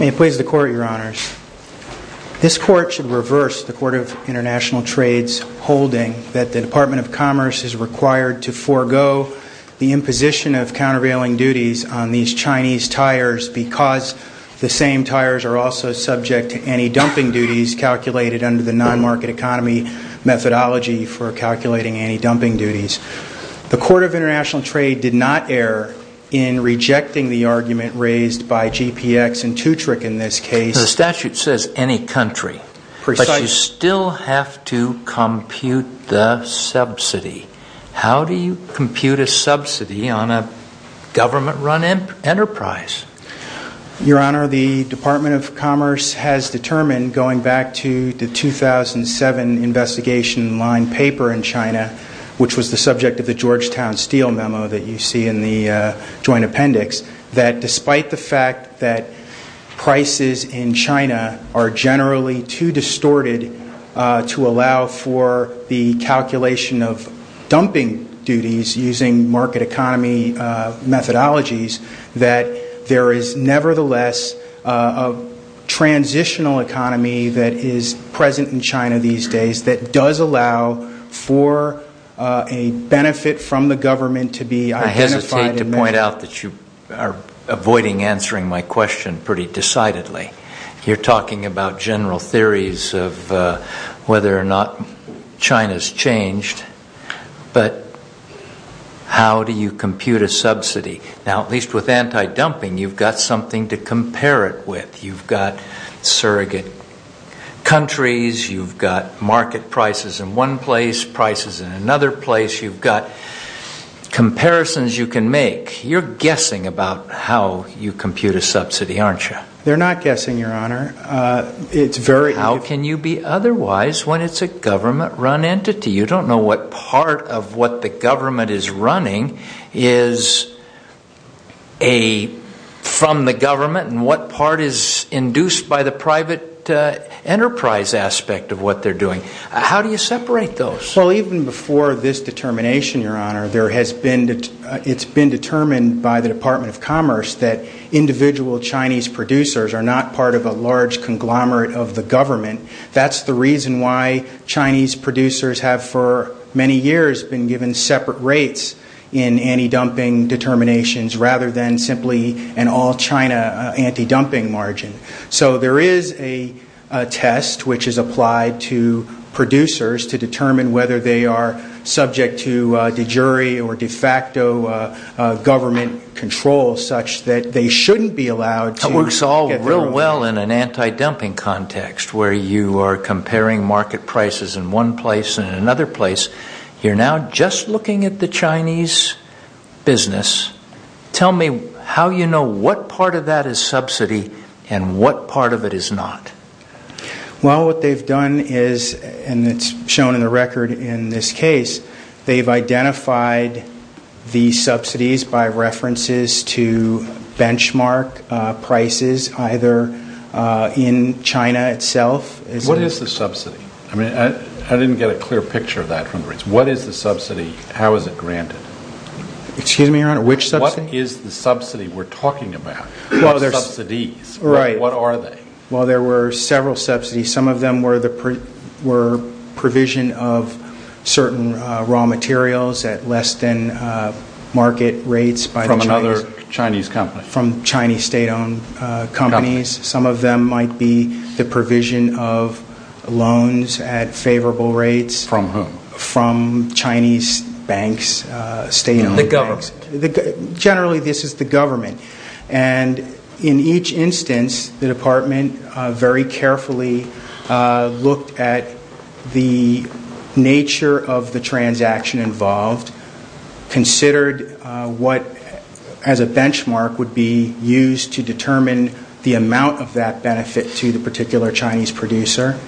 May it please the Court, Your Honors. This Court should reverse the Court of International Trades holding that the Department of Commerce is required to forego the imposition of countervailing duties on these Chinese tires because the same tires are also subject to anti-dumping duties calculated under the non-market economy methodology for calculating anti-dumping duties. The Court of International Trade did not err in rejecting the argument raised by GPX and Tutrick in this case. The statute says any country, but you still have to compute the subsidy. How do you compute a subsidy on a government run enterprise? Your Honor, the Department of Commerce has determined going back to the 2007 investigation line paper in China, which was the subject of the Georgetown Steel memo that you see in the joint appendix, that despite the fact that prices in China are generally too distorted to allow for the calculation of dumping duties using market economy methodologies, that there is nevertheless a transitional economy that is present in China these days that does allow for a benefit from the government to be identified in that. I hesitate to point out that you are avoiding answering my question pretty decidedly. You are talking about general theories of whether or not China has changed, but how do you compute a subsidy? Now, at least with anti-dumping, you've got something to compare it with. You've got surrogate countries. You've got market prices in one place, prices in another place. You've got comparisons you can make. You're guessing about how you compute a subsidy, aren't you? They're not guessing, Your Honor. It's very How can you be otherwise when it's a government run entity? You don't know what part of what the government is running is from the government and what part is induced by the private enterprise aspect of what they're doing. How do you separate those? Well, even before this determination, Your Honor, it's been determined by the Department of Commerce that individual Chinese producers are not part of a large conglomerate of the separate rates in anti-dumping determinations rather than simply an all-China anti-dumping margin. So there is a test which is applied to producers to determine whether they are subject to de jure or de facto government control such that they shouldn't be allowed to That works all real well in an anti-dumping context where you are comparing market prices in one place and another place. You're now just looking at the Chinese business. Tell me how you know what part of that is subsidy and what part of it is not. Well, what they've done is, and it's shown in the record in this case, they've identified the subsidies by references to benchmark prices either in China itself What is the subsidy? I didn't get a clear picture of that from the rates. What is the subsidy? How is it granted? Excuse me, Your Honor, which subsidy? What is the subsidy we're talking about? What are subsidies? What are they? Well, there were several subsidies. Some of them were provision of certain raw materials at less than market rates by the Chinese From another Chinese company? From Chinese state-owned companies. Some of them might be the provision of loans at favorable rates From whom? From Chinese banks, state-owned banks The government? Generally, this is the government. And in each instance, the department very carefully looked at the nature of the transaction involved, considered what as a benchmark would be used to determine the amount of that benefit to the particular Chinese producer,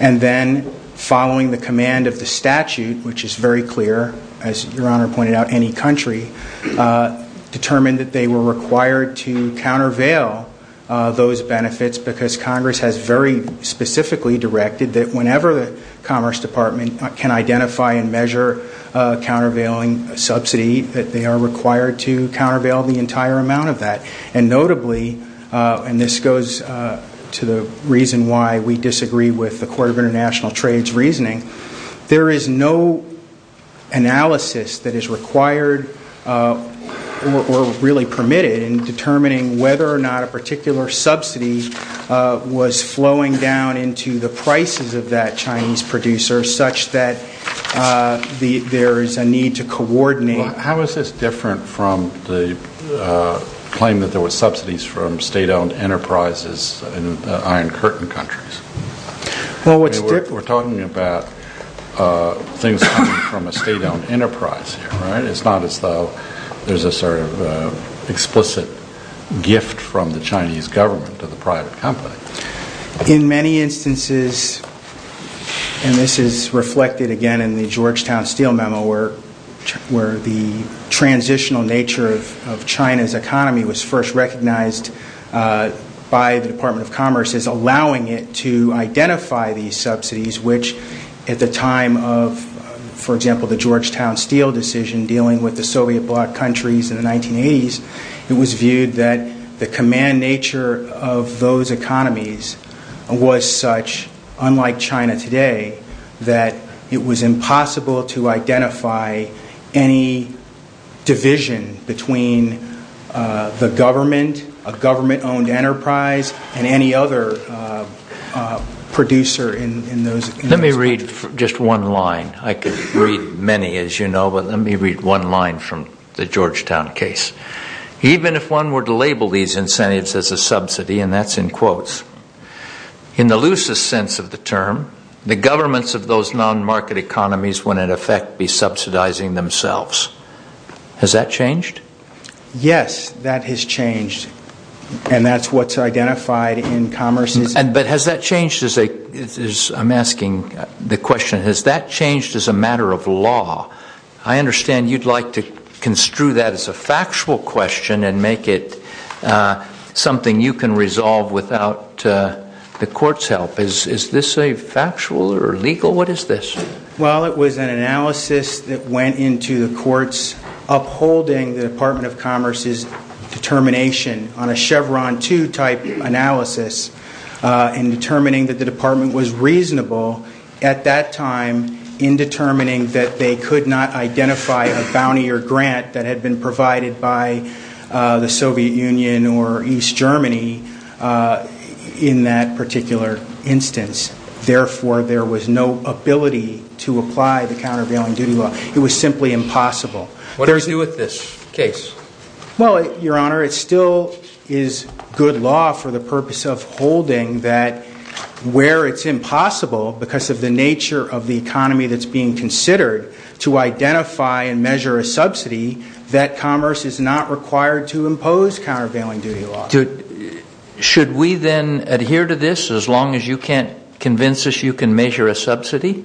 and then following the command of the statute, which is very clear, as Your Honor pointed out, any country, determined that they were required to countervail those benefits because Congress has very specifically directed that whenever the Commerce Department can identify and measure a countervailing subsidy, that they are required to countervail the entire amount of that. And notably, and this goes to the reason why we disagree with the Court of International Trade's reasoning, there is no analysis that is required or really permitted in determining whether or not a particular subsidy was flowing down into the prices of that Chinese producer such that there is a need to coordinate How is this different from the claim that there were subsidies from state-owned enterprises in Iron Curtain countries? We're talking about things coming from a state-owned enterprise, right? It's not as though there's a sort of explicit gift from the Chinese government to the private company. In many instances, and this is reflected again in the Georgetown Steel Memo, where the transitional nature of China's economy was first recognized by the Department of Commerce as allowing it to identify these subsidies, which at the time of, for example, the Georgetown Steel decision dealing with the Soviet bloc countries in the 1980s, it was viewed that the command nature of those It was impossible to identify any division between the government, a government-owned enterprise, and any other producer in those countries. Let me read just one line. I could read many, as you know, but let me read one line from the Georgetown case. Even if one were to label these incentives as a subsidy, and that's effect be subsidizing themselves. Has that changed? Yes, that has changed, and that's what's identified in Commerce's... But has that changed as a... I'm asking the question, has that changed as a matter of law? I understand you'd like to construe that as a factual question and make it something you can resolve without the court's help. Is this a factual or legal? What is this? Well, it was an analysis that went into the courts upholding the Department of Commerce's determination on a Chevron 2 type analysis in determining that the department was reasonable at that time in determining that they could not identify a bounty or grant that had been any in that particular instance. Therefore, there was no ability to apply the countervailing duty law. It was simply impossible. What does it do with this case? Well, Your Honor, it still is good law for the purpose of holding that where it's impossible because of the nature of the economy that's being considered to identify and measure a Should we then adhere to this as long as you can't convince us you can measure a subsidy?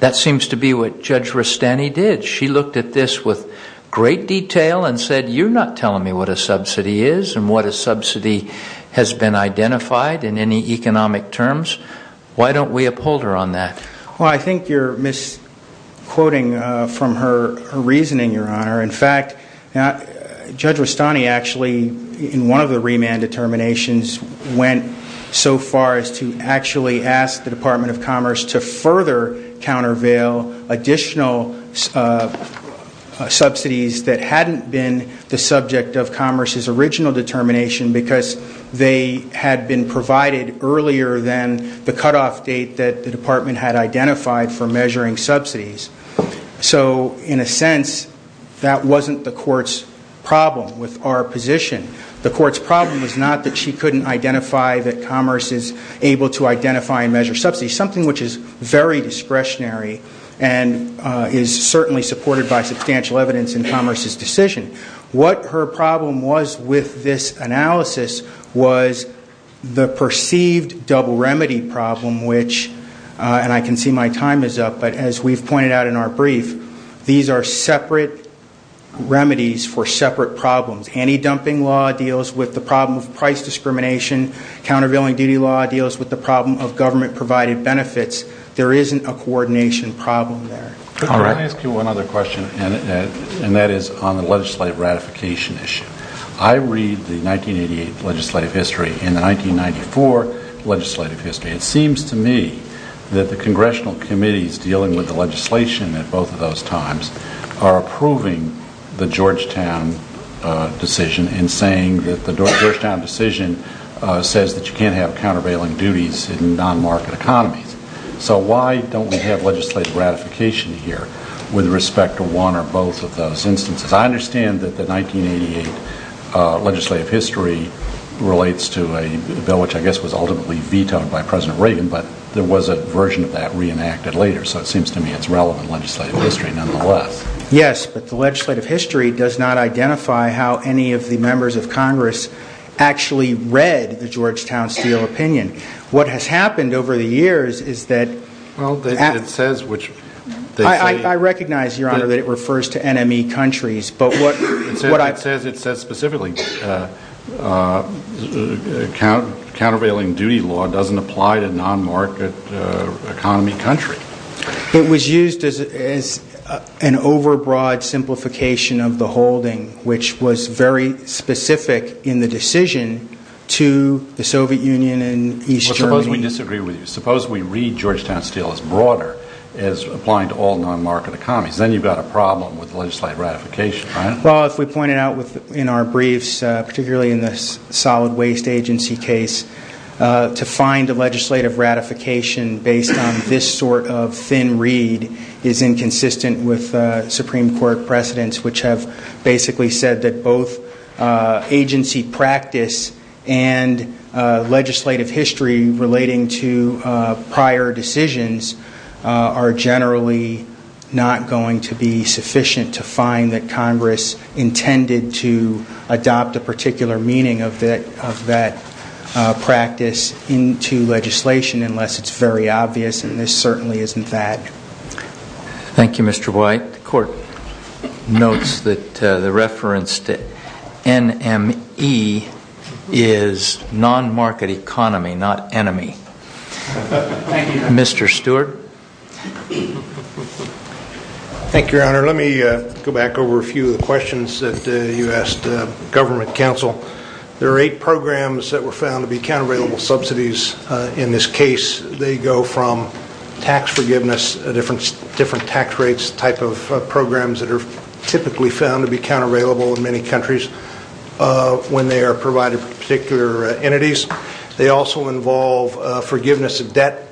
That seems to be what Judge Rustani did. She looked at this with great detail and said, you're not telling me what a subsidy is and what a subsidy has been identified in any economic terms. Why don't we uphold her on that? Well, I think you're misquoting from her reasoning, Your Honor. In fact, Judge Rustani actually in one of the remand determinations went so far as to actually ask the Department of Commerce to further countervail additional subsidies that hadn't been the subject of Commerce's original determination because they had been provided earlier than the cutoff date that the department had identified for measuring subsidies. So in a sense, that wasn't the position. The court's problem was not that she couldn't identify that Commerce is able to identify and measure subsidies, something which is very discretionary and is certainly supported by substantial evidence in Commerce's decision. What her problem was with this analysis was the perceived double remedy problem, which and I can see my time is up, but as we've pointed out in our brief, these are separate remedies for separate problems. Anti-dumping law deals with the problem of price discrimination. Countervailing duty law deals with the problem of government-provided benefits. There isn't a coordination problem there. Could I ask you one other question? And that is on the legislative ratification issue. I read the 1988 legislative history and the 1994 legislative history. It seems to me that the congressional committees dealing with the legislation at both of those times are approving the Georgetown decision and saying that the Georgetown decision says that you can't have countervailing duties in non-market economies. So why don't we have legislative ratification here with respect to one or both of those instances? I understand that the 1988 legislative history relates to a bill which I guess was ultimately vetoed by President Reagan, but there was a version of that reenacted later. So it seems to me it's relevant legislative history nonetheless. Yes, but the legislative history does not identify how any of the members of Congress actually read the Georgetown Steel opinion. What has happened over the years is that- Well, it says which- I recognize, Your Honor, that it refers to NME countries, but what- It says it says specifically, countervailing duty law doesn't apply to non-market economy country. It was used as an overbroad simplification of the holding, which was very specific in the decision to the Soviet Union and East Germany. Well, suppose we disagree with you. Suppose we read Georgetown Steel as broader as applying to all non-market economies. Then you've got a problem with legislative ratification, right? Well, if we pointed out in our briefs, particularly in the solid waste agency case, to find a legislative ratification based on this sort of thin read is inconsistent with Supreme Court precedents, which have basically said that both agency practice and legislative history relating to prior decisions are generally not going to be sufficient to find that Congress intended to adopt a particular meaning of that practice into legislation unless it's very obvious, and this certainly isn't that. Thank you, Mr. White. The court notes that the reference to NME is non-market economy, not enemy. Thank you, Your Honor. Mr. Stewart. Thank you, Your Honor. Let me go back over a few of the questions that you asked the government counsel. There are eight programs that were found to be countervailable subsidies. In this case, they go from tax forgiveness, different tax rates, type of programs that are typically found to be countervailable in many countries when they are provided for debt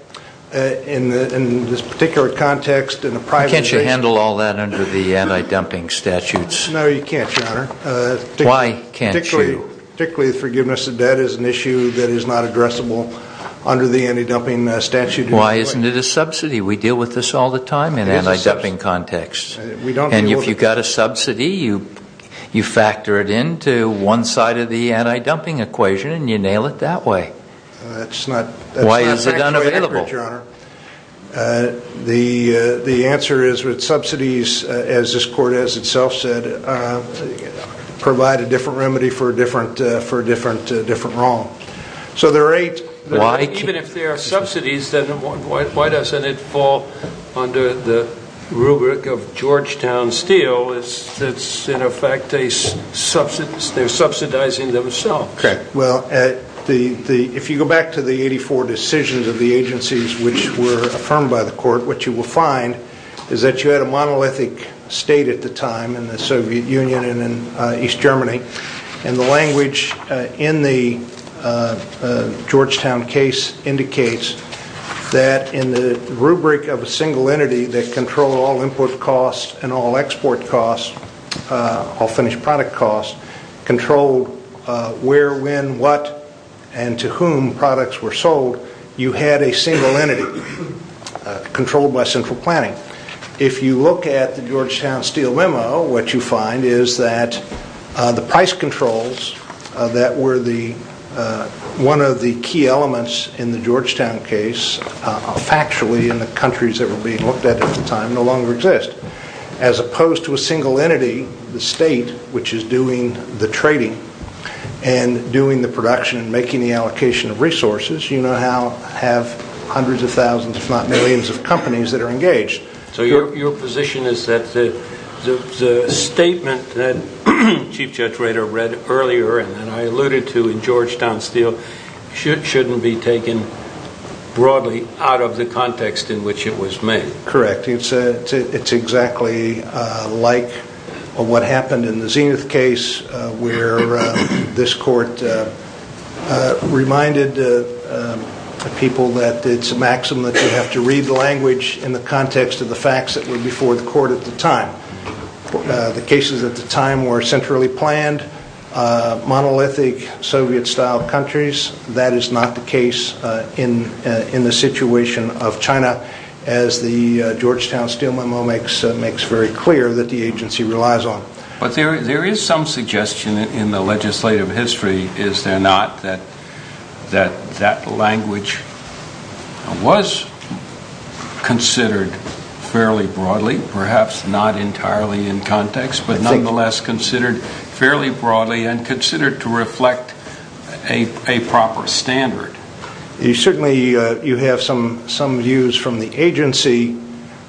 in this particular context in a private case. Can't you handle all that under the anti-dumping statutes? No, you can't, Your Honor. Why can't you? Particularly the forgiveness of debt is an issue that is not addressable under the anti-dumping statute. Why isn't it a subsidy? We deal with this all the time in anti-dumping contexts. And if you've got a subsidy, you factor it into one side of the anti-dumping equation and you nail it that way. That's not. Why is it unavailable? That's not the way to look at it, Your Honor. The answer is with subsidies, as this court has itself said, provide a different remedy for a different wrong. So there are eight. But even if there are subsidies, then why doesn't it fall under the rubric of Georgetown Steel that's, in effect, they're subsidizing themselves? Well, if you go back to the 84 decisions of the agencies which were affirmed by the court, what you will find is that you had a monolithic state at the time in the Soviet Union and in East Germany. And the language in the Georgetown case indicates that in the rubric of a single entity that controlled all input costs and all export costs, all finished product costs, controlled where, when, what, and to whom products were sold, you had a single entity controlled by central planning. If you look at the Georgetown Steel memo, what you find is that the price controls that were one of the key elements in the Georgetown case, factually, in the countries that were being looked at at the time, no longer exist. As opposed to a single entity, the state, which is doing the trading and doing the production and making the allocation of resources, you now have hundreds of thousands, if not millions of companies that are engaged. So your position is that the statement that Chief Judge Rader read earlier and that I alluded to in Georgetown Steel shouldn't be taken broadly out of the happened in the Zenith case, where this court reminded people that it's a maxim that you have to read the language in the context of the facts that were before the court at the time. The cases at the time were centrally planned, monolithic Soviet-style countries. That is not the case in the situation of China, as the Georgetown Steel memo makes very clear that the agency relies on. But there is some suggestion in the legislative history, is there not, that that language was considered fairly broadly, perhaps not entirely in context, but nonetheless considered fairly broadly. You have some views from the agency,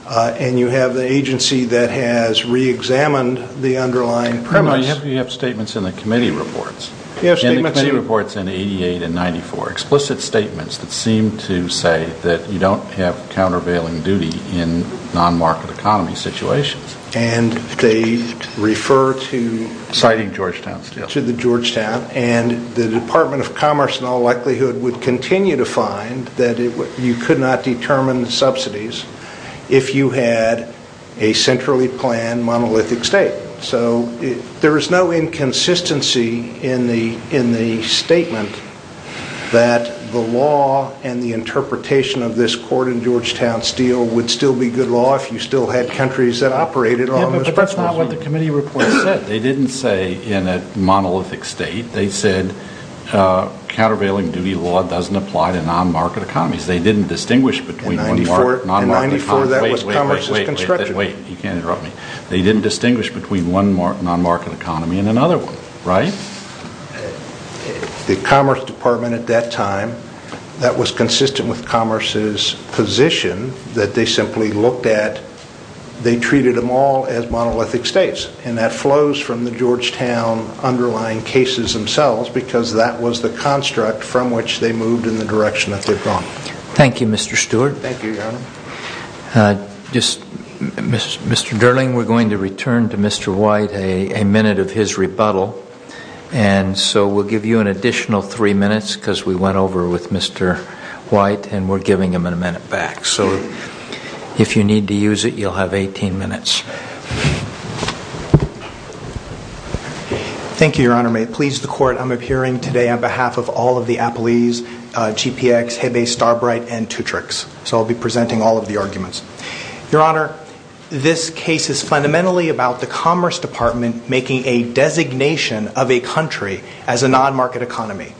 and you have the agency that has re-examined the underlying premise. You have statements in the committee reports, in 88 and 94, explicit statements that seem to say that you don't have countervailing duty in non-market economy situations. And they refer to the Georgetown, and the Department of Commerce in all likelihood would continue to find that you could not determine the subsidies if you had a centrally planned monolithic state. So there is no inconsistency in the statement that the law and the interpretation of this court in Georgetown Steel would still be good law if you still had countries that operated on this. But that's not what the committee report said. They didn't say in a monolithic state. They said countervailing duty law doesn't apply to non-market economies. They didn't distinguish between one non-market economy. In 94, that was Commerce's construction. Wait, wait, wait. You can't interrupt me. They didn't distinguish between one non-market economy and another one, right? The Commerce Department at that time, that was consistent with Commerce's position that they simply looked at, they treated them all as monolithic states. And that flows from the Georgetown underlying cases themselves because that was the construct from which they moved in the direction that they've gone. Thank you, Mr. Stewart. Thank you, Your Honor. Mr. Durling, we're going to return to Mr. White a minute of his rebuttal. And so we'll give you an additional three minutes because we went over with Mr. White and we're giving him a minute back. So if you need to use it, you'll have 18 minutes. Thank you, Your Honor. May it please the Court, I'm appearing today on behalf of all of the Applees, GPX, Hebe, Starbright, and Tutrix. So I'll be presenting all of the arguments. Your Honor, this case is fundamentally about the Commerce Department making a designation of a country as a non-market economy.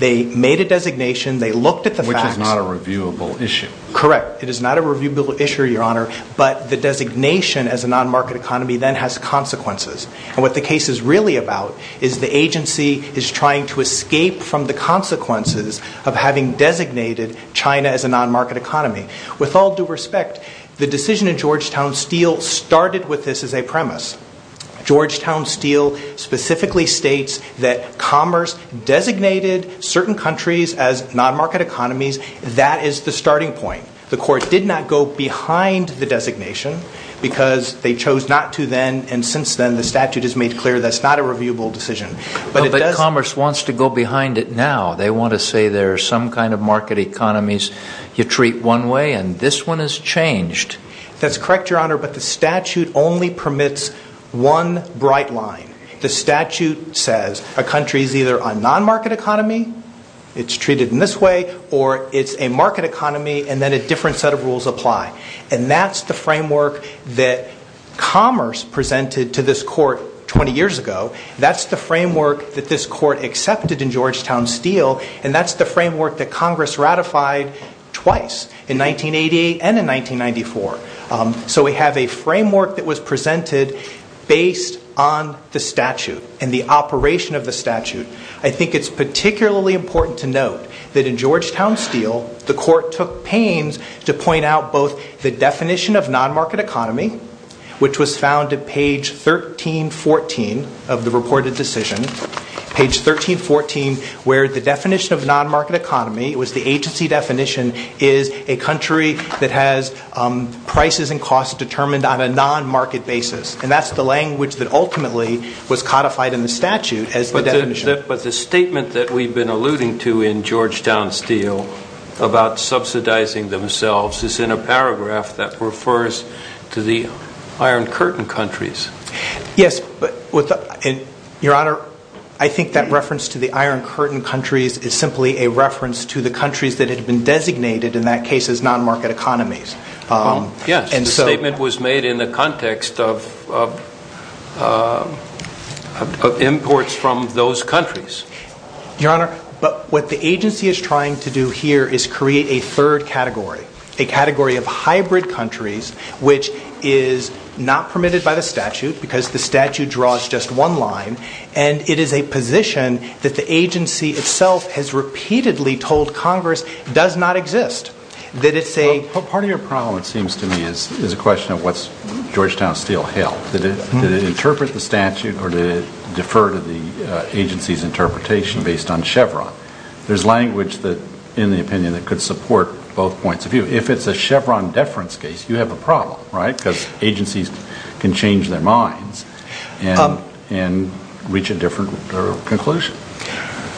They made a designation. They looked at the facts. Which is not a reviewable issue. Correct. It is not a reviewable issue, Your Honor. But the designation as a non-market economy then has consequences. And what the case is really about is the agency is trying to escape from the consequences of having designated China as a non-market economy. With all due respect, the decision in Georgetown Steel started with this as a premise. Georgetown Steel specifically states that commerce designated certain countries as non-market economies. That is the starting point. The Court did not go behind the designation because they chose not to then and since then the statute has made clear that's not a reviewable decision. But commerce wants to go behind it now. They want to say there are some kind of market economies you treat one way and this one is changed. That's correct, Your Honor, but the statute only permits one bright line. The statute says a country is either a non-market economy, it's treated in this way, or it's a market economy and then a different set of rules apply. And that's the framework that commerce presented to this Court 20 years ago. That's the framework that this Court accepted in Georgetown Steel and that's the framework that Congress ratified twice in 1988 and in 1994. So we have a framework that is based on the statute and the operation of the statute. I think it's particularly important to note that in Georgetown Steel the Court took pains to point out both the definition of non-market economy, which was found at page 1314 of the reported decision, page 1314, where the definition of non-market economy, it was the agency definition, is a country that has prices and costs determined on a non-market basis. And that's the language that ultimately was codified in the statute as the definition. But the statement that we've been alluding to in Georgetown Steel about subsidizing themselves is in a paragraph that refers to the Iron Curtain countries. Yes, but Your Honor, I think that reference to the Iron Curtain countries is simply a reference to the countries that had been designated in that case as non-market economies. Yes, the statement was made in the context of imports from those countries. Your Honor, but what the agency is trying to do here is create a third category, a category of hybrid countries, which is not permitted by the statute because the statute draws just one line and it is a position that the agency itself has repeatedly told Congress does not exist. Part of your problem, it seems to me, is a question of what's Georgetown Steel held. Did it interpret the statute or did it defer to the agency's interpretation based on Chevron? There's language that, in the opinion, that could support both points of view. If it's a Chevron deference case, you have a problem, right? Because agencies can change their minds and reach a different conclusion.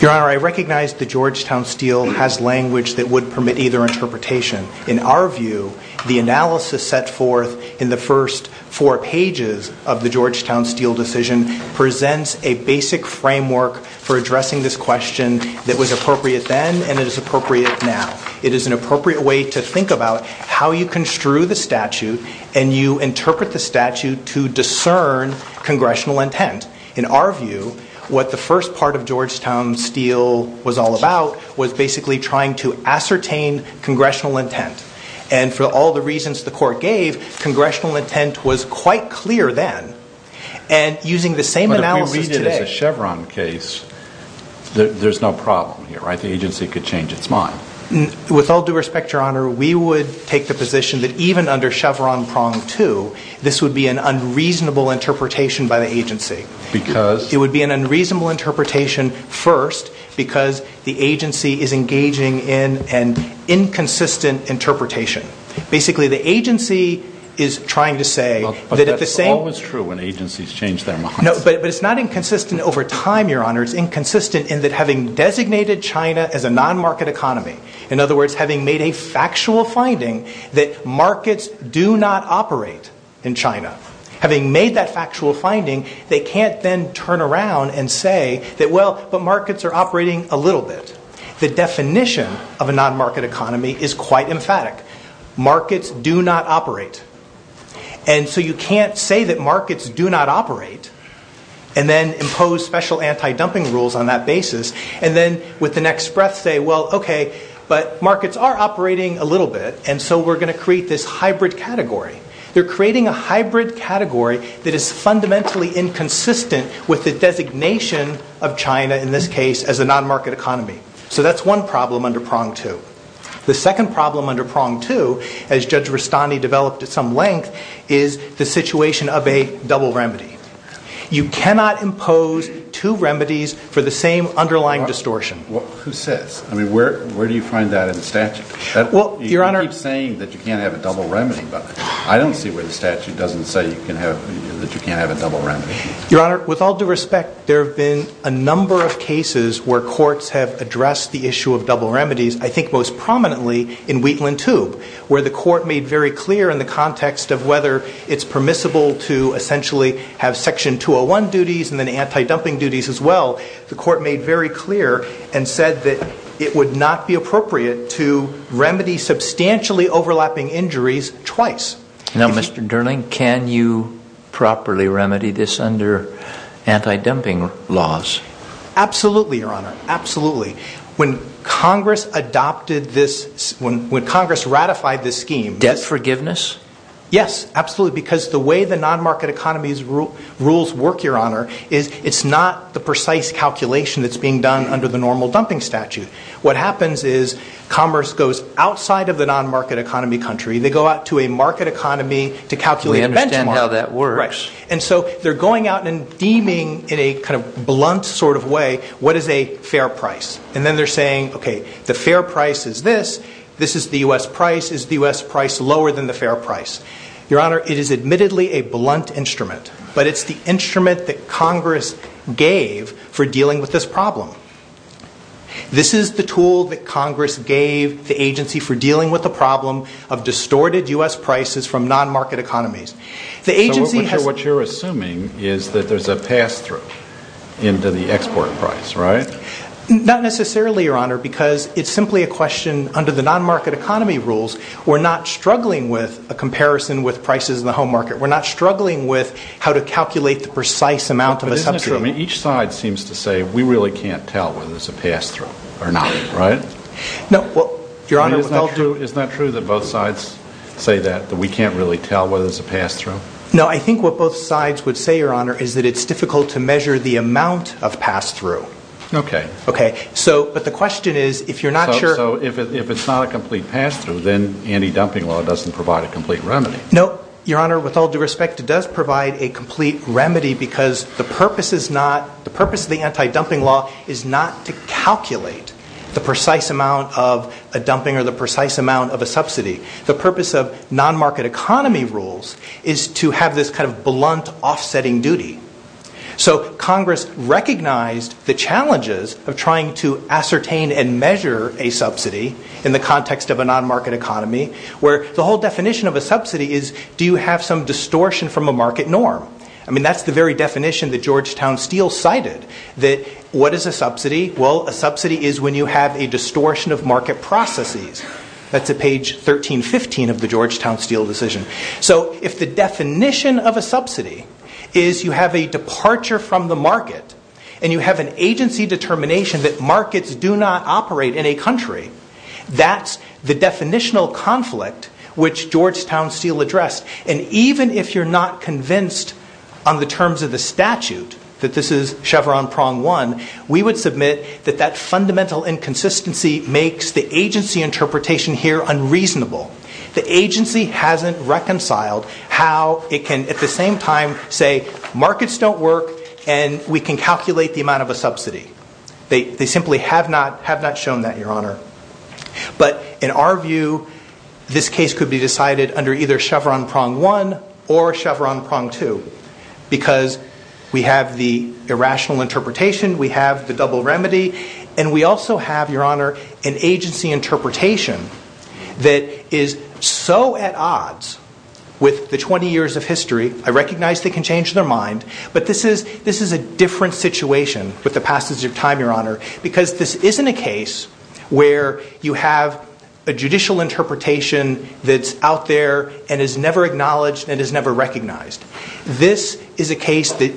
Your Honor, I recognize the Georgetown Steel has language that would permit either interpretation. In our view, the analysis set forth in the first four pages of the Georgetown Steel decision presents a basic framework for addressing this question that was appropriate then and it is appropriate now. It is an appropriate way to think about how you construe the statute and you interpret the statute to discern congressional intent. In our view, what the first part of Georgetown Steel was all about was basically trying to ascertain congressional intent. And for all the reasons the court gave, congressional intent was quite clear then. And using the same analysis today... But if we read it as a Chevron case, there's no problem here, right? The agency could change its mind. With all due respect, Your Honor, we would take the position that even under Chevron prong two, this would be an unreasonable interpretation by the agency. It would be an unreasonable interpretation first because the agency is engaging in an inconsistent interpretation. Basically, the agency is trying to say that at the same... But that's always true when agencies change their minds. No, but it's not inconsistent over time, Your Honor. It's inconsistent in that having designated China as a non-market economy, in other words, having made a factual finding that markets do not operate in China, having made that finding, they can't then turn around and say that, well, but markets are operating a little bit. The definition of a non-market economy is quite emphatic. Markets do not operate. And so you can't say that markets do not operate and then impose special anti-dumping rules on that basis and then with the next breath say, well, okay, but markets are operating a little bit and so we're going to create this hybrid category. They're creating a hybrid category that is fundamentally inconsistent with the designation of China, in this case, as a non-market economy. So that's one problem under prong two. The second problem under prong two, as Judge Rustani developed at some length, is the situation of a double remedy. You cannot impose two remedies for the same underlying distortion. Who says? I mean, where do you find that in a double remedy? I don't see where the statute doesn't say that you can't have a double remedy. Your Honor, with all due respect, there have been a number of cases where courts have addressed the issue of double remedies, I think most prominently in Wheatland Tube, where the court made very clear in the context of whether it's permissible to essentially have Section 201 duties and then anti-dumping duties as well, the court made very clear and said that it would not be appropriate to remedy substantially overlapping injuries twice. Now, Mr. Durling, can you properly remedy this under anti-dumping laws? Absolutely, Your Honor, absolutely. When Congress adopted this, when Congress ratified this scheme... Debt forgiveness? Yes, absolutely, because the way the non-market economy's rules work, Your Honor, is it's not the precise calculation that's being done under the normal dumping statute. What happens is commerce goes outside of the non-market economy country, they go out to a market economy to calculate benchmark. We understand how that works. And so they're going out and deeming in a kind of blunt sort of way, what is a fair price? And then they're saying, okay, the fair price is this, this is the U.S. price, is the U.S. price lower than the fair price? Your Honor, it is admittedly a blunt instrument, but it's the instrument that Congress gave for dealing with this problem. This is the tool that Congress gave the agency for dealing with the problem of distorted U.S. prices from non-market economies. The agency has... What you're assuming is that there's a pass-through into the export price, right? Not necessarily, Your Honor, because it's simply a question under the non-market economy rules, we're not struggling with a comparison with prices in the home market. We're not struggling with how to calculate the precise amount of a substitute. Each side seems to say, we really can't tell whether it's a pass-through or not, right? No, Your Honor, with all due... Isn't that true that both sides say that, that we can't really tell whether it's a pass-through? No, I think what both sides would say, Your Honor, is that it's difficult to measure the amount of pass-through. Okay. Okay. So, but the question is, if you're not sure... So, if it's not a complete pass-through, then anti-dumping law doesn't provide a complete remedy. No, Your Honor, with all due respect, it does provide a complete remedy because the purpose is not... The purpose of the anti-dumping law is not to calculate the precise amount of a dumping or the precise amount of a subsidy. The purpose of non-market economy rules is to have this kind of blunt offsetting duty. So, Congress recognized the challenges of trying to ascertain and measure a subsidy in the context of a non-market economy, where the whole definition of a subsidy is, do you have some distortion from a market norm? I mean, that's the very definition that Georgetown Steel cited, that what is a subsidy? Well, a subsidy is when you have a distortion of market processes. That's at page 1315 of the Georgetown Steel decision. So, if the definition of a subsidy is you have a departure from the market and you have an agency determination that markets do not operate in a country, that's the definitional conflict which Georgetown Steel addressed. And even if you're not convinced on the terms of the statute that this is Chevron prong one, we would submit that that fundamental inconsistency makes the agency interpretation here unreasonable. The agency hasn't reconciled how it can, at the same time, say markets don't work and we can calculate the amount of a subsidy. They simply have not shown that, Your Honor. But, in our view, this case could be decided under either Chevron prong one or Chevron prong two, because we have the irrational interpretation, we have the double remedy, and we also have, Your Honor, an agency interpretation that is so at odds with the 20 years of history, I recognize they can change their mind, but this is a different situation with the passage of time, Your Honor, because this isn't a case where you have a judicial interpretation that's out there and is never acknowledged and is never recognized. This is a case that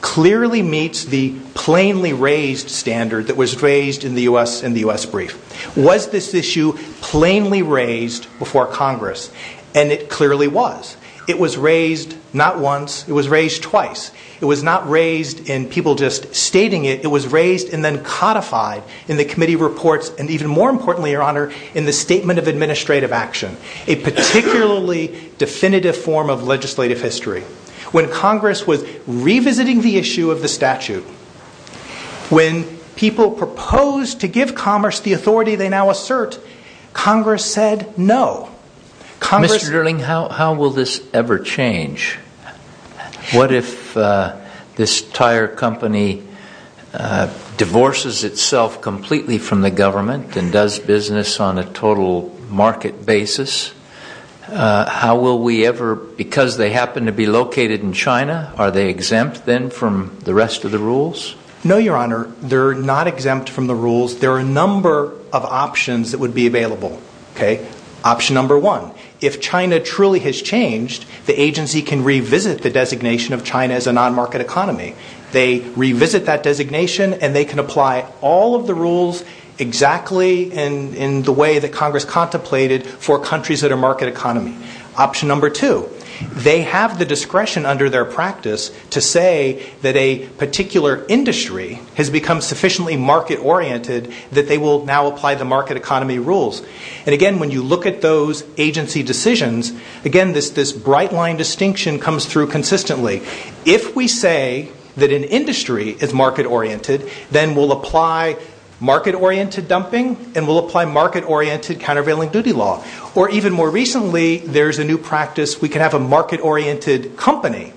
clearly meets the plainly raised standard that was raised in the U.S. brief. Was this issue plainly raised before Congress? And it clearly was. It was raised not once, it was not raised in people just stating it, it was raised and then codified in the committee reports and, even more importantly, Your Honor, in the statement of administrative action, a particularly definitive form of legislative history. When Congress was revisiting the issue of the statute, when people proposed to give commerce the authority they now assert, Congress said no. Mr. Dierling, how will this ever change? What if this tire company divorces itself completely from the government and does business on a total market basis? How will we ever, because they happen to be located in China, are they exempt then from the rest of the rules? No, Your Honor, they're not exempt from the rules. There are a number of options that would be available, okay? Option number one, if China truly has changed, the agency can revisit the designation of China as a non-market economy. They revisit that designation and they can apply all of the rules exactly in the way that Congress contemplated for countries that are market economy. Option number two, they have the discretion under their practice to say that a particular industry has become sufficiently market-oriented that they will now apply the market economy rules. Again, when you look at those agency decisions, again, this bright line distinction comes through consistently. If we say that an industry is market-oriented, then we'll apply market-oriented dumping and we'll apply market-oriented countervailing duty law. Or even more recently, there's a new practice. We can have a market-oriented company.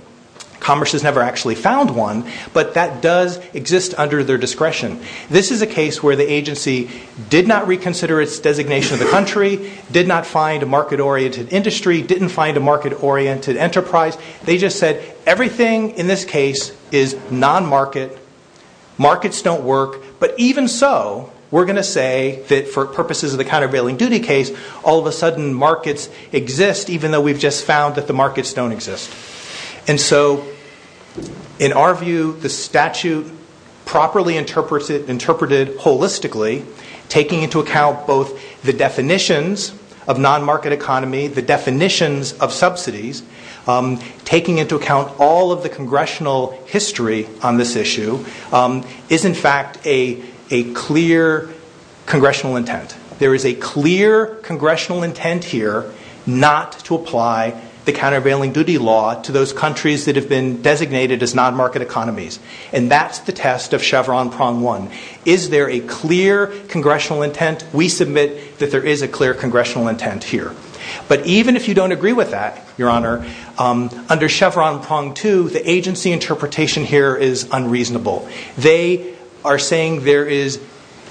Commerce has never actually found one, but that does exist under their discretion. This is a case where the agency did not reconsider its designation of the country, did not find a market-oriented industry, didn't find a market-oriented enterprise. They just said, everything in this case is non-market, markets don't work, but even so, we're going to say that for purposes of the countervailing duty case, all of a sudden markets exist even though we've just found that the markets don't exist. And so, in our view, the statute properly interprets it, interpreted holistically, taking into account both the definitions of non-market economy, the definitions of subsidies, taking into account all of the congressional history on this issue, is in fact a clear congressional intent. There is a clear congressional intent here not to apply the countervailing duty law to those countries that have been designated as non-market economies. And that's the test of Chevron prong one. Is there a clear congressional intent? We submit that there is a clear congressional intent here. But even if you don't agree with that, Your Honor, under Chevron prong two, the agency interpretation here is unreasonable. They are saying there is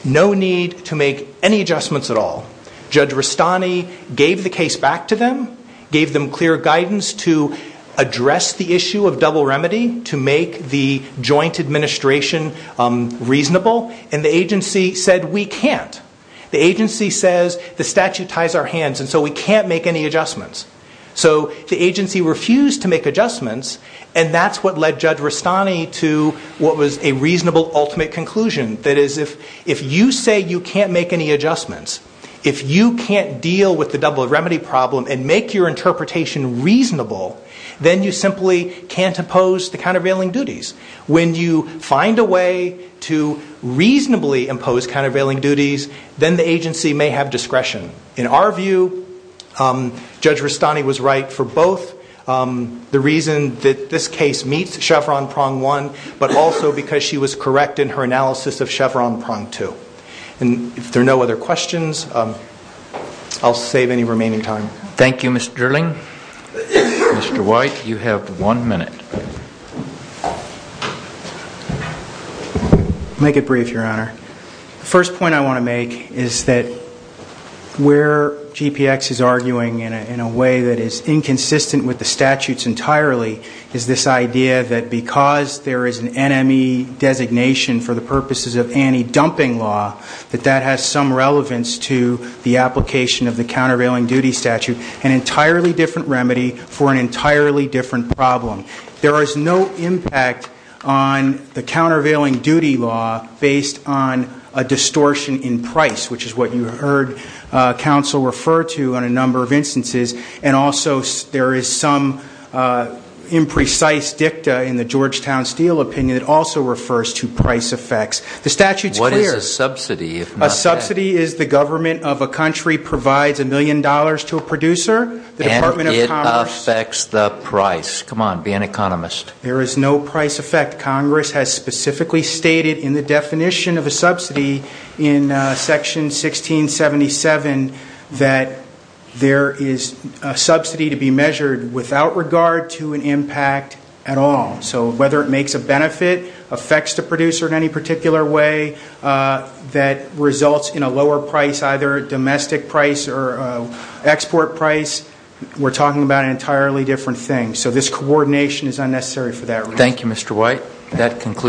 no need to make any adjustments at all. Judge Rustani gave the case back to them, gave them clear guidance to address the issue of double remedy, to make the joint administration reasonable, and the agency said we can't. The agency says the statute ties our hands, and so we can't make any adjustments. So the agency refused to make adjustments, and that's what led Judge Rustani to what was a reasonable ultimate conclusion. That is, if you say you can't make any adjustments, if you can't deal with the double remedy problem and make your interpretation reasonable, then you simply can't impose the countervailing duties. When you find a way to reasonably impose countervailing duties, then the agency may have discretion. In our view, Judge Rustani was right for both the reason that this case meets Chevron prong one, but also because she was correct in her analysis of Chevron prong two. And if there Mr. White, you have one minute. I'll make it brief, Your Honor. The first point I want to make is that where GPX is arguing in a way that is inconsistent with the statutes entirely is this idea that because there is an NME designation for the purposes of anti-dumping law, that that has some relevance to the application of the countervailing duty statute, an entirely different remedy for an entirely different problem. There is no impact on the countervailing duty law based on a distortion in price, which is what you heard counsel refer to in a number of instances. And also, there is some imprecise dicta in the Georgetown Steel opinion that also refers to price effects. The statute's clear. What is a subsidy, if not that? Subsidy is the government of a country provides a million dollars to a producer, the Department of Commerce. And it affects the price. Come on, be an economist. There is no price effect. Congress has specifically stated in the definition of a subsidy in Section 1677 that there is a subsidy to be measured without regard to an impact at all. So whether it makes a benefit, affects the producer in any particular way, that results in a lower price, either domestic price or export price, we're talking about an entirely different thing. So this coordination is unnecessary for that reason. Thank you, Mr. White. That concludes